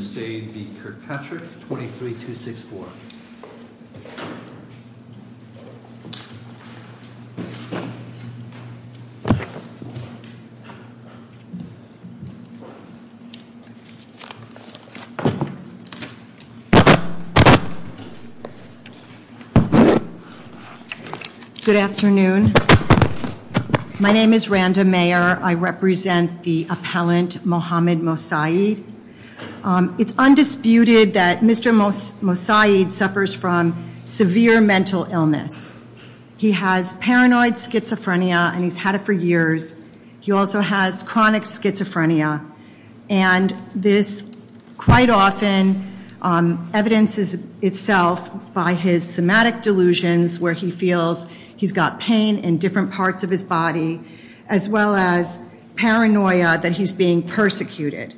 Moussaid v. Kirkpatrick, 23264 Good afternoon. My name is Randa Mayer. I represent the appellant Mohamed Moussaid. It's undisputed that Mr. Moussaid suffers from severe mental illness. He has paranoid schizophrenia and he's had it for years. He also has chronic schizophrenia and this quite often evidences itself by his somatic delusions where he feels he's got pain in different parts of his body as well as paranoia that he's being persecuted.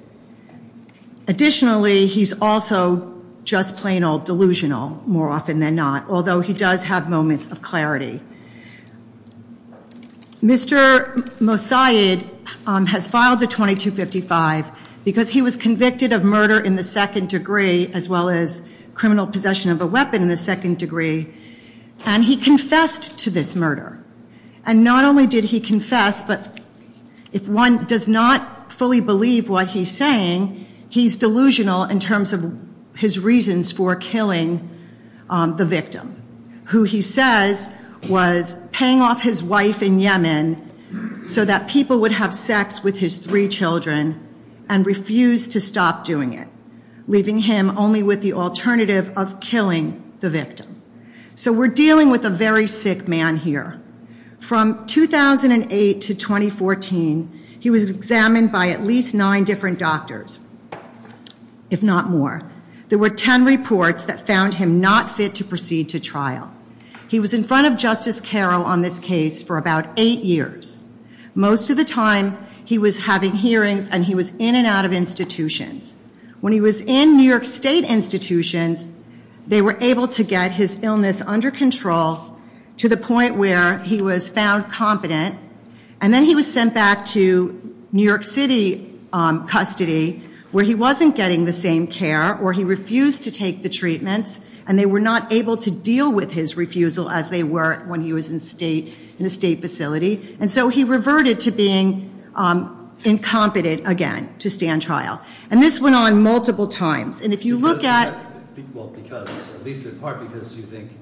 Additionally, he's also just plain old delusional more often than not, although he does have moments of clarity. Mr. Moussaid has filed a 2255 because he was convicted of murder in the second degree as well as criminal possession of a weapon in the second degree and he confessed to this murder. And not only did he confess, but if one does not fully believe that he is guilty of this murder, he will be sentenced to life in prison. And if you don't believe what he's saying, he's delusional in terms of his reasons for killing the victim, who he says was paying off his wife in Yemen so that people would have sex with his three children and refused to stop doing it, leaving him only with the alternative of killing the victim. So we're dealing with a very sick man here. From 2008 to 2014, he was examined by at least nine different doctors, if not more. There were ten reports that found him not fit to proceed to trial. He was in front of Justice Carroll on this case for about eight years. Most of the time, he was having hearings and he was in and out of institutions. When he was in New York State institutions, they were able to get his illness under control to the point where he was found competent and then he was sent back to New York City custody where he wasn't getting the same care or he refused to take the treatments and they were not able to deal with his refusal as they were when he was in a state facility. And so he reverted to being incompetent again to stand trial. And this went on multiple times. And if you look at… Well, because, at least in part, because you think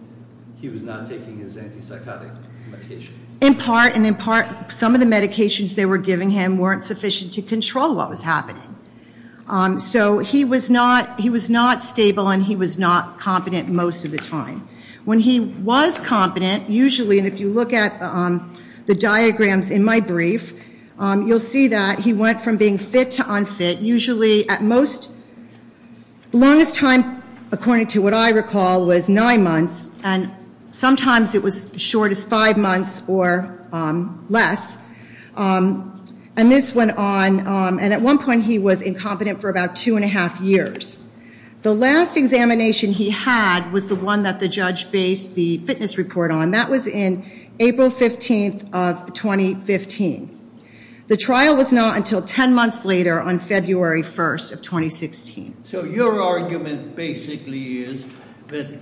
he was not taking his anti-psychotic medication. And in part, some of the medications they were giving him weren't sufficient to control what was happening. So he was not stable and he was not competent most of the time. When he was competent, usually, and if you look at the diagrams in my brief, you'll see that he went from being fit to unfit, usually at most… Longest time, according to what I recall, was nine months and sometimes it was as short as five months or less. And this went on, and at one point he was incompetent for about two and a half years. The last examination he had was the one that the judge based the fitness report on. That was in April 15th of 2015. The trial was not until ten months later on February 1st of 2016. So your argument basically is that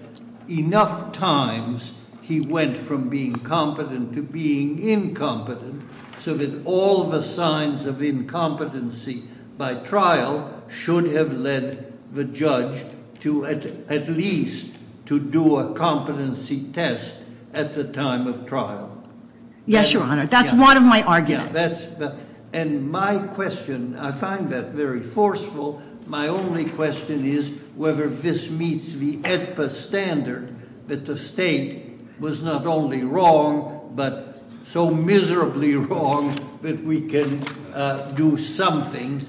enough times he went from being competent to being incompetent so that all the signs of incompetency by trial should have led the judge to at least to do a competency test at the time of trial. Yes, Your Honor. That's one of my arguments. And my question, I find that very forceful. My only question is whether this meets the standard that the state was not only wrong, but so miserably wrong that we can do something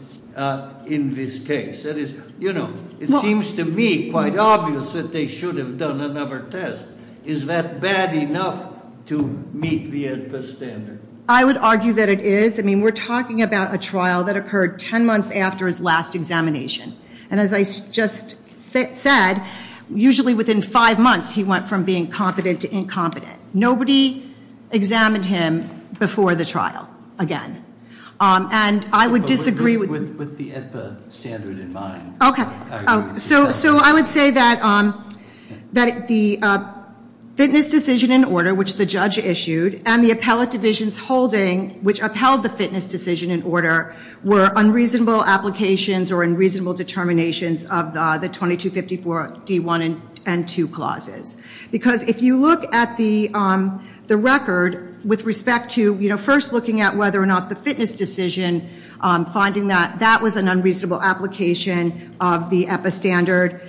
in this case. That is, you know, it seems to me quite obvious that they should have done another test. Is that bad enough to meet the standard? I would argue that it is. I mean, we're talking about a trial that occurred ten months after his last examination. And as I just said, usually within five months he went from being competent to incompetent. Nobody examined him before the trial, again. And I would disagree with- With the standard in mind. Okay. So I would say that the fitness decision in order, which the judge issued, and the appellate divisions holding, which upheld the fitness decision in order, were unreasonable applications or unreasonable determinations of the 2254 D1 and 2 clauses. Because if you look at the record with respect to, you know, first looking at whether or not the fitness decision, finding that that was an unreasonable application of the epistandard.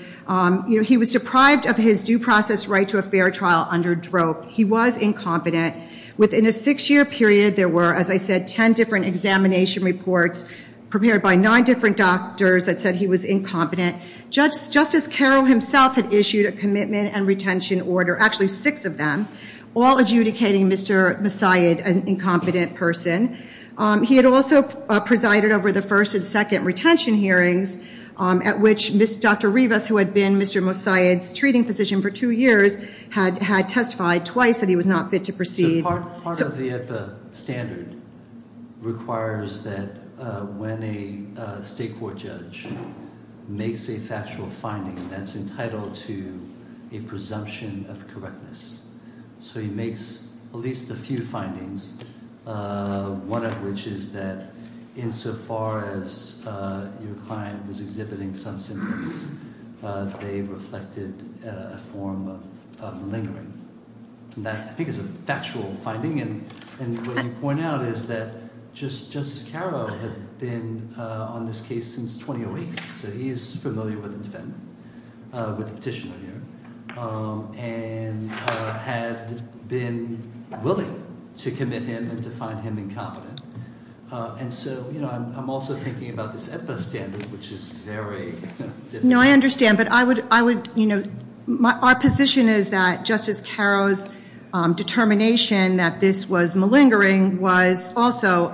You know, he was deprived of his due process right to a fair trial under drop. He was incompetent. Within a six year period there were, as I said, ten different examination reports prepared by nine different doctors that said he was incompetent. Justice Carroll himself had issued a commitment and retention order, actually six of them, all adjudicating Mr. Mossiad an incompetent person. He had also presided over the first and second retention hearings at which Dr. Rivas, who had been Mr. Mossiad's treating physician for two years, had testified twice that he was not fit to proceed. Part of the epistandard requires that when a state court judge makes a factual finding that's entitled to a presumption of correctness, so he makes at least a few findings, one of which is that insofar as your client was exhibiting some symptoms, they reflected a form of lingering. I think it's a factual finding, and what you point out is that Justice Carroll had been on this case since 2008. So he's familiar with the defendant, with the petitioner here, and had been willing to commit him and to find him incompetent. And so, you know, I'm also thinking about this epistandard, which is very- No, I understand, but I would, you know, our position is that Justice Carroll's determination that this was malingering was also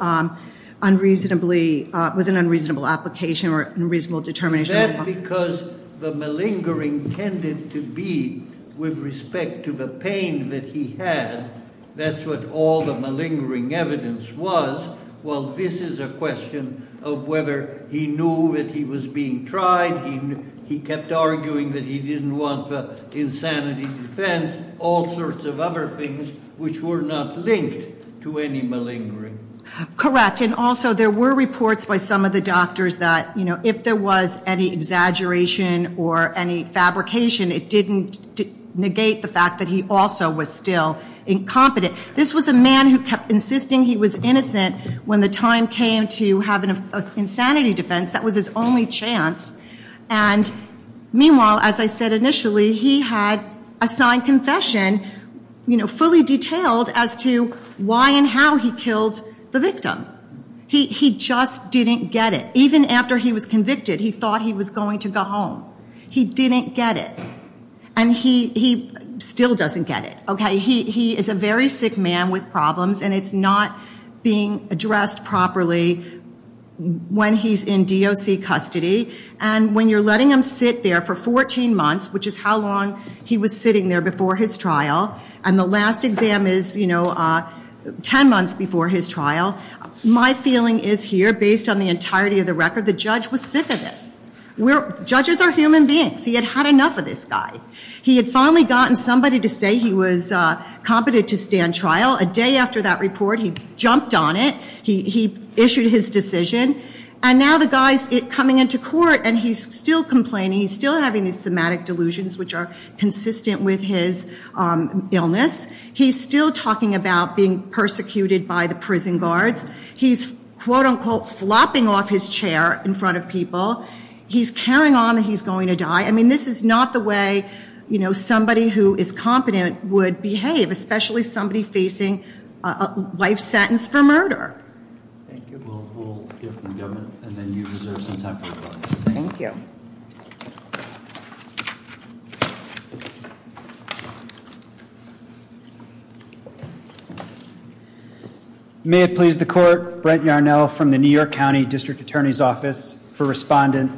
unreasonably, was an unreasonable application or unreasonable determination. Is that because the malingering tended to be, with respect to the pain that he had, that's what all the malingering evidence was? Well, this is a question of whether he knew that he was being tried, he kept arguing that he didn't want the insanity defense, all sorts of other things which were not linked to any malingering. Correct, and also there were reports by some of the doctors that, you know, if there was any exaggeration or any fabrication, it didn't negate the fact that he also was still incompetent. This was a man who kept insisting he was innocent when the time came to have an insanity defense, that was his only chance. And meanwhile, as I said initially, he had assigned confession, you know, fully detailed as to why and how he killed the victim. He just didn't get it. Even after he was convicted, he thought he was going to go home. He didn't get it. And he still doesn't get it, okay? He is a very sick man with problems, and it's not being addressed properly when he's in DOC custody. And when you're letting him sit there for 14 months, which is how long he was sitting there before his trial, and the last exam is, you know, 10 months before his trial. My feeling is here, based on the entirety of the record, the judge was sick of this. Judges are human beings. He had had enough of this guy. He had finally gotten somebody to say he was competent to stand trial. A day after that report, he jumped on it. He issued his decision. And now the guy's coming into court, and he's still complaining. He's still having these somatic delusions, which are consistent with his illness. He's still talking about being persecuted by the prison guards. He's quote unquote flopping off his chair in front of people. He's carrying on that he's going to die. I mean, this is not the way somebody who is competent would behave, especially somebody facing a life sentence for murder. Thank you. We'll hear from the government, and then you reserve some time for questions. Thank you. May it please the court, Brent Yarnell from the New York County District Attorney's Office for Respondent.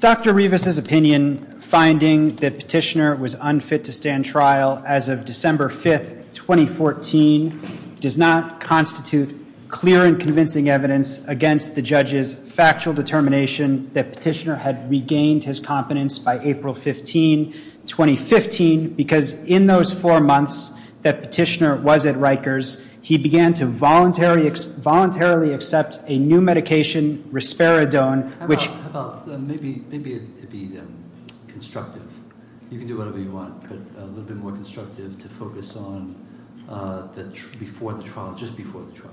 Dr. Rivas' opinion, finding that Petitioner was unfit to stand trial as of December 5th, 2014, does not constitute clear and convincing evidence against the judge's factual determination that Petitioner had regained his competence by April 15, 2015. Because in those four months that Petitioner was at Rikers, he began to voluntarily accept a new medication, Risperidone, which- How about, maybe it'd be constructive. You can do whatever you want, but a little bit more constructive to focus on before the trial, just before the trial.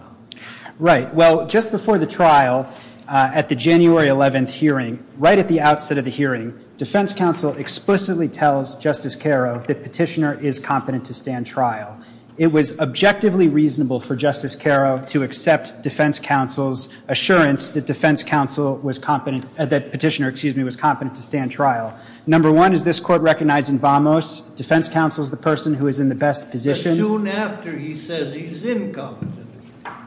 Right, well, just before the trial, at the January 11th hearing, right at the outset of the hearing, defense counsel explicitly tells Justice Carrow that Petitioner is competent to stand trial. It was objectively reasonable for Justice Carrow to accept defense counsel's assurance that defense counsel was competent, that Petitioner, excuse me, was competent to stand trial. Number one, is this court recognizing Vamos? Defense counsel's the person who is in the best position. Soon after he says he's incompetent,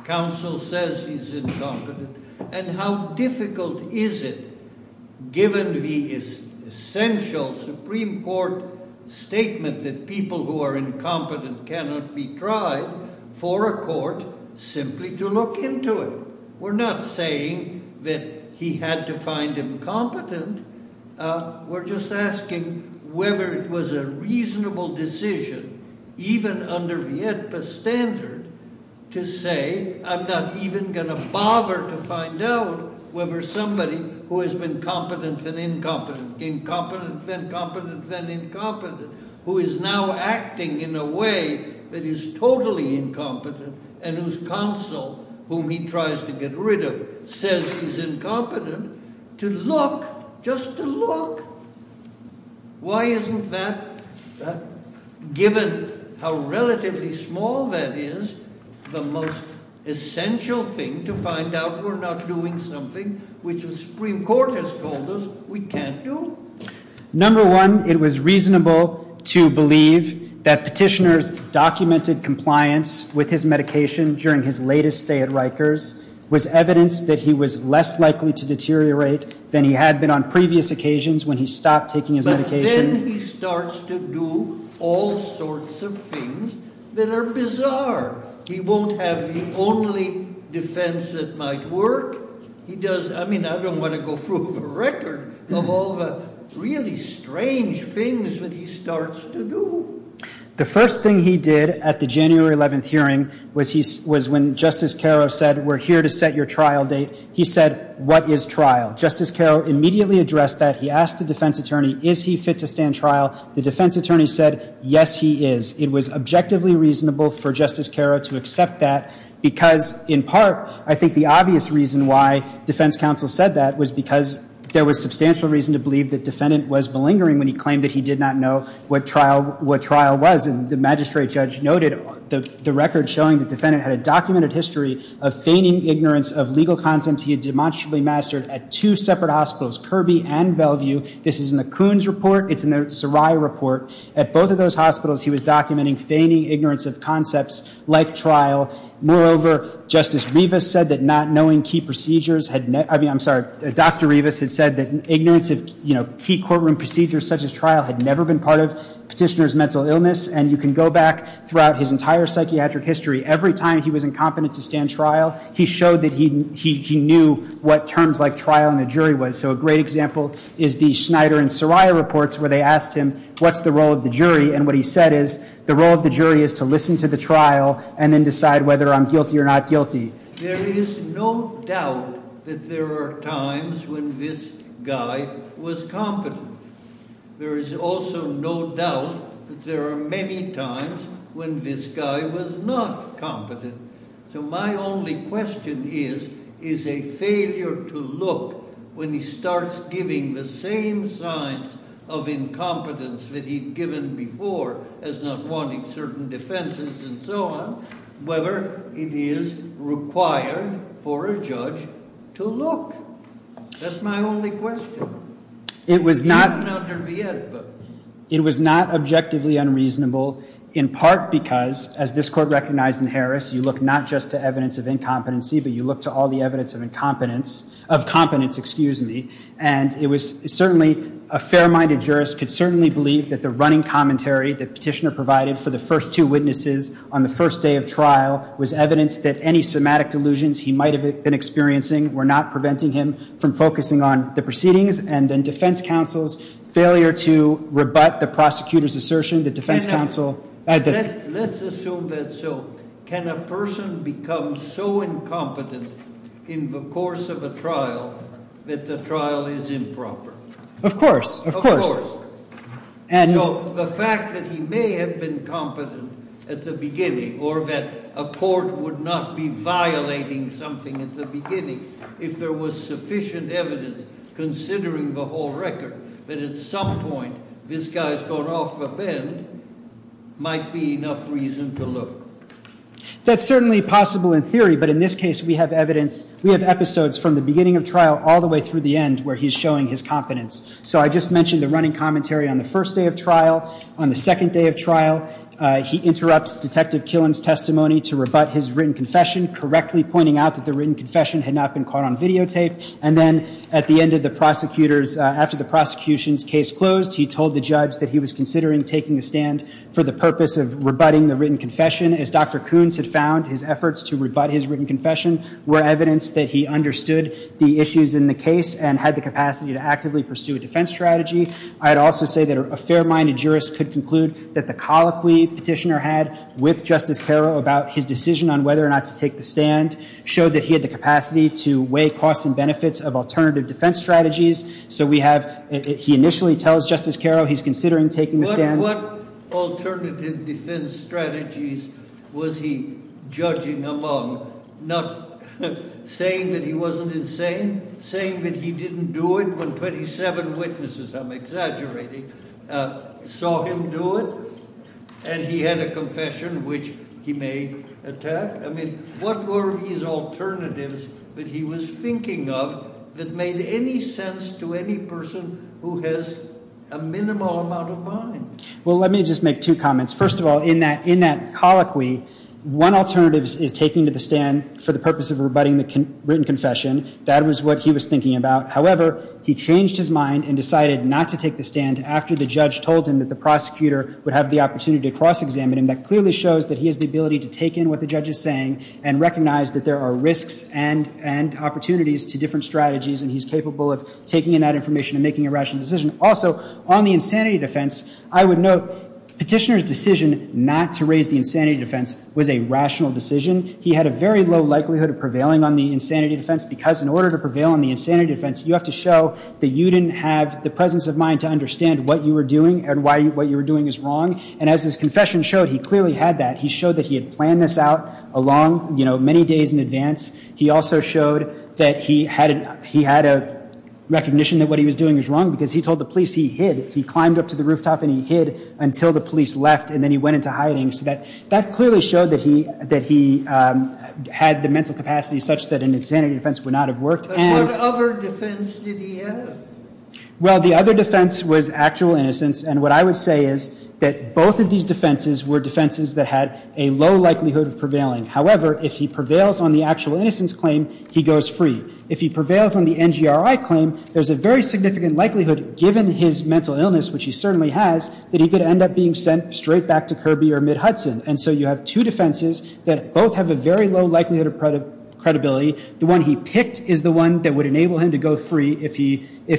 counsel says he's incompetent. And how difficult is it, given the essential Supreme Court statement that people who are incompetent cannot be tried for a court, simply to look into it. We're not saying that he had to find him competent. We're just asking whether it was a reasonable decision, even under Vietpa's standard, to say I'm not even going to bother to find out whether somebody who has been competent and incompetent, incompetent, then competent, then incompetent, who is now acting in a way that is totally incompetent. And whose counsel, whom he tries to get rid of, says he's incompetent, to look, just to look. Why isn't that, given how relatively small that is, the most essential thing to find out we're not doing something which the Supreme Court has told us we can't do? Number one, it was reasonable to believe that petitioner's documented compliance with his medication during his latest stay at Rikers was evidence that he was less likely to deteriorate than he had been on previous occasions when he stopped taking his medication. But then he starts to do all sorts of things that are bizarre. He won't have the only defense that might work. He does, I mean, I don't want to go through the record of all the really strange things that he starts to do. The first thing he did at the January 11th hearing was when Justice Caro said, we're here to set your trial date. He said, what is trial? Justice Caro immediately addressed that. He asked the defense attorney, is he fit to stand trial? The defense attorney said, yes, he is. It was objectively reasonable for Justice Caro to accept that. Because in part, I think the obvious reason why defense counsel said that was because there was substantial reason to believe that defendant was malingering when he claimed that he did not know what trial was. And the magistrate judge noted the record showing the defendant had a documented history of feigning ignorance of legal concepts. He had demonstrably mastered at two separate hospitals, Kirby and Bellevue. This is in the Coons report. It's in the Sarai report. At both of those hospitals, he was documenting feigning ignorance of concepts like trial. Moreover, Justice Rivas said that not knowing key procedures had, I mean, I'm sorry, Dr. Rivas had said that ignorance of key courtroom procedures such as trial had never been part of petitioner's mental illness. And you can go back throughout his entire psychiatric history. Every time he was incompetent to stand trial, he showed that he knew what terms like trial in a jury was. So a great example is the Schneider and Sarai reports where they asked him, what's the role of the jury? And what he said is, the role of the jury is to listen to the trial and then decide whether I'm guilty or not guilty. There is no doubt that there are times when this guy was competent. There is also no doubt that there are many times when this guy was not competent. So my only question is, is a failure to look when he starts giving the same signs of incompetence that he'd given before as not wanting certain defenses and so on. Whether it is required for a judge to look. That's my only question. It was not- Even under the Ed book. It was not objectively unreasonable in part because, as this court recognized in Harris, you look not just to evidence of incompetency, but you look to all the evidence of incompetence, of competence, excuse me. And it was certainly, a fair-minded jurist could certainly believe that the running commentary that petitioner provided for the first two witnesses on the first day of trial was evidence that any somatic delusions he might have been experiencing were not preventing him from focusing on the proceedings. And then defense counsel's failure to rebut the prosecutor's assertion, the defense counsel- Let's assume that so. Can a person become so incompetent in the course of a trial that the trial is improper? Of course, of course. Of course. So the fact that he may have been competent at the beginning, or that a court would not be violating something at the beginning, if there was sufficient evidence, considering the whole record, that at some point this guy's gone off the bend, might be enough reason to look. That's certainly possible in theory, but in this case we have evidence, we have episodes from the beginning of trial all the way through the end where he's showing his competence. So I just mentioned the running commentary on the first day of trial. On the second day of trial, he interrupts Detective Killen's testimony to rebut his written confession, correctly pointing out that the written confession had not been caught on videotape. And then at the end of the prosecutor's, after the prosecution's case closed, he told the judge that he was considering taking a stand for the purpose of rebutting the written confession. As Dr. Coons had found, his efforts to rebut his written confession were evidence that he understood the issues in the case and had the capacity to actively pursue a defense strategy. I'd also say that a fair-minded jurist could conclude that the colloquy petitioner had with Justice Carrow about his decision on whether or not to take the stand showed that he had the capacity to weigh costs and benefits of alternative defense strategies. So we have, he initially tells Justice Carrow he's considering taking the stand. What alternative defense strategies was he judging among? Not saying that he wasn't insane? Saying that he didn't do it when 27 witnesses, I'm exaggerating, saw him do it? And he had a confession which he may attack? I mean, what were his alternatives that he was thinking of that made any sense to any person who has a minimal amount of mind? Well, let me just make two comments. First of all, in that colloquy, one alternative is taking to the stand for the purpose of rebutting the written confession. That was what he was thinking about. However, he changed his mind and decided not to take the stand after the judge told him that the prosecutor would have the opportunity to cross-examine him. That clearly shows that he has the ability to take in what the judge is saying and recognize that there are risks and opportunities to different strategies. And he's capable of taking in that information and making a rational decision. Also, on the insanity defense, I would note petitioner's decision not to raise the insanity defense was a rational decision. He had a very low likelihood of prevailing on the insanity defense because in order to prevail on the insanity defense, you have to show that you didn't have the presence of mind to understand what you were doing and why what you were doing is wrong. And as his confession showed, he clearly had that. He showed that he had planned this out along many days in advance. He also showed that he had a recognition that what he was doing was wrong because he told the police he hid. He climbed up to the rooftop and he hid until the police left and then he went into hiding. So that clearly showed that he had the mental capacity such that an insanity defense would not have worked. And- But what other defense did he have? Well, the other defense was actual innocence. And what I would say is that both of these defenses were defenses that had a low likelihood of prevailing. However, if he prevails on the actual innocence claim, he goes free. If he prevails on the NGRI claim, there's a very significant likelihood, given his mental illness, which he certainly has, that he could end up being sent straight back to Kirby or MidHudson. And so you have two defenses that both have a very low likelihood of credibility. The one he picked is the one that would enable him to go free if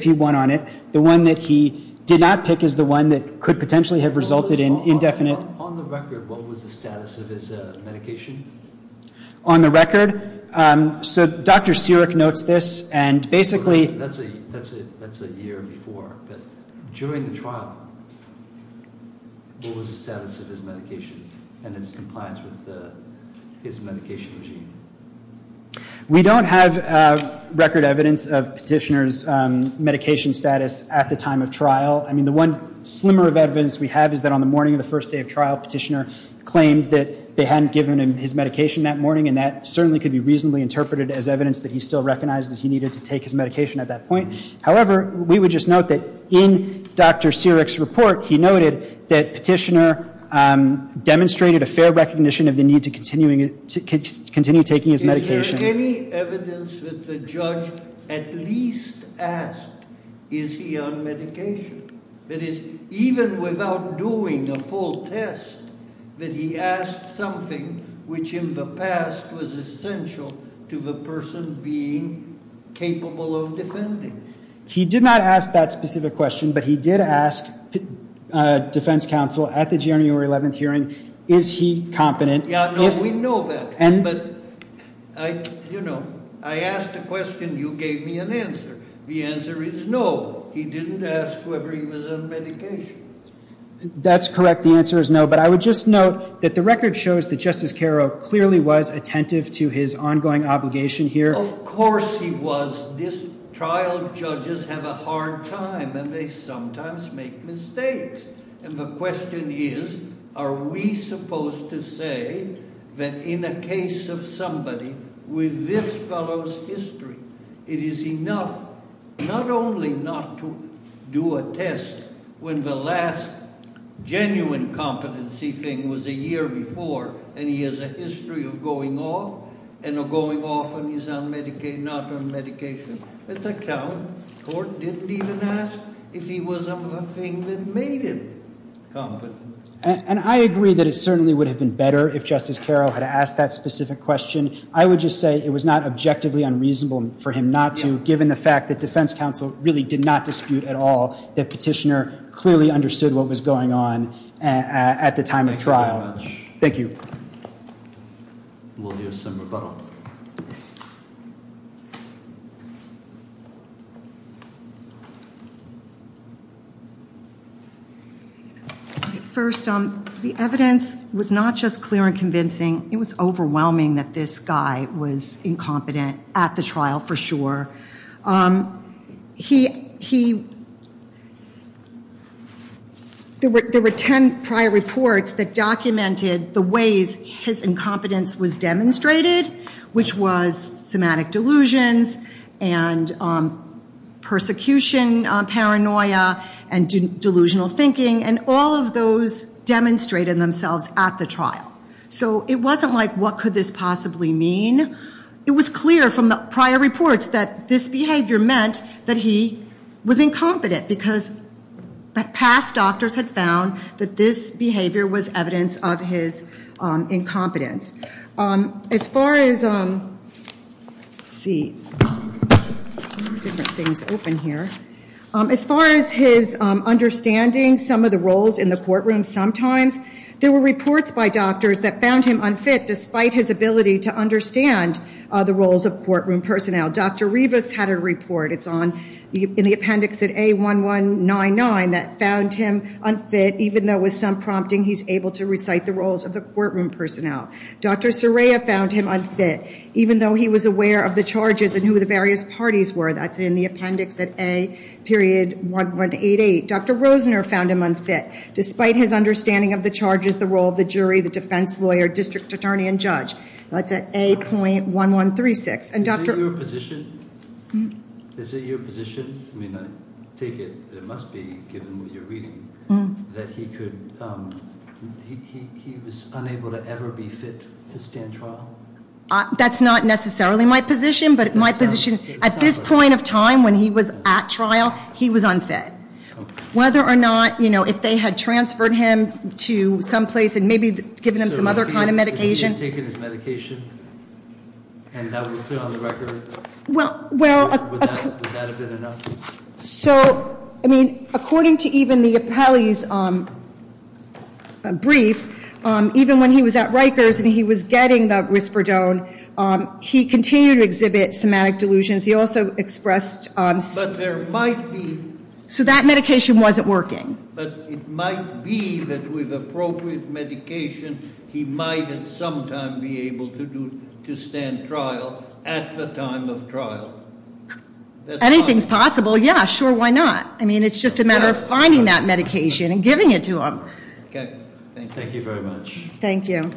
he won on it. The one that he did not pick is the one that could potentially have resulted in indefinite- On the record, what was the status of his medication? On the record? So Dr. Siric notes this and basically- That's a year before. But during the trial, what was the status of his medication and its compliance with his medication regime? We don't have record evidence of Petitioner's medication status at the time of trial. I mean, the one slimmer of evidence we have is that on the morning of the first day of trial, Petitioner claimed that they hadn't given him his medication that morning. And that certainly could be reasonably interpreted as evidence that he still recognized that he needed to take his medication at that point. However, we would just note that in Dr. Siric's report, he noted that Petitioner demonstrated a fair recognition of the need to continue taking his medication. Is there any evidence that the judge at least asked, is he on medication? That is, even without doing a full test, that he asked something which in the past was essential to the person being capable of defending. He did not ask that specific question, but he did ask defense counsel at the January 11th hearing, is he competent? Yeah, no, we know that. But I asked a question, you gave me an answer. The answer is no, he didn't ask whether he was on medication. That's correct, the answer is no, but I would just note that the record shows that Justice Carrow clearly was attentive to his ongoing obligation here. Of course he was. This trial judges have a hard time, and they sometimes make mistakes. And the question is, are we supposed to say that in a case of somebody with this fellow's history, it is enough not only not to do a test when the last genuine competency thing was a year before, and he has a history of going off, and of going off and he's not on medication. At that time, court didn't even ask if he was on the thing that made him competent. And I agree that it certainly would have been better if Justice Carrow had asked that specific question. I would just say it was not objectively unreasonable for him not to, given the fact that defense counsel really did not dispute at all, that petitioner clearly understood what was going on at the time of trial. Thank you. We'll hear some rebuttal. First, the evidence was not just clear and convincing. It was overwhelming that this guy was incompetent at the trial, for sure. There were ten prior reports that documented the ways his incompetence was demonstrated. Which was somatic delusions, and persecution paranoia, and delusional thinking. And all of those demonstrated themselves at the trial. So it wasn't like, what could this possibly mean? It was clear from the prior reports that this behavior meant that he was incompetent. Because past doctors had found that this behavior was evidence of his incompetence. As far as, let's see, different things open here. As far as his understanding some of the roles in the courtroom, sometimes there were reports by doctors that found him unfit, despite his ability to understand the roles of courtroom personnel. Dr. Rivas had a report, it's in the appendix at A1199, that found him unfit, even though with some prompting he's able to recite the roles of the courtroom personnel. Dr. Soraya found him unfit, even though he was aware of the charges and who the various parties were. That's in the appendix at A period 1188. Dr. Rosener found him unfit, despite his understanding of the charges, the role of the jury, the defense lawyer, district attorney, and judge. That's at A.1136. And Dr.- Is it your position, is it your position, I mean, I take it that it must be, I'm reading, that he could, he was unable to ever be fit to stand trial? That's not necessarily my position, but my position, at this point of time when he was at trial, he was unfit. Whether or not, if they had transferred him to some place and maybe given him some other kind of medication. So if he had taken his medication, and that would have been on the record, would that have been enough? So, I mean, according to even the appellee's brief, even when he was at Rikers and he was getting the Risperdone, he continued to exhibit somatic delusions. He also expressed- But there might be- So that medication wasn't working. But it might be that with appropriate medication, he might at some time be able to stand trial at the time of trial. Anything's possible, yeah, sure, why not? I mean, it's just a matter of finding that medication and giving it to him. Okay, thank you very much. Thank you.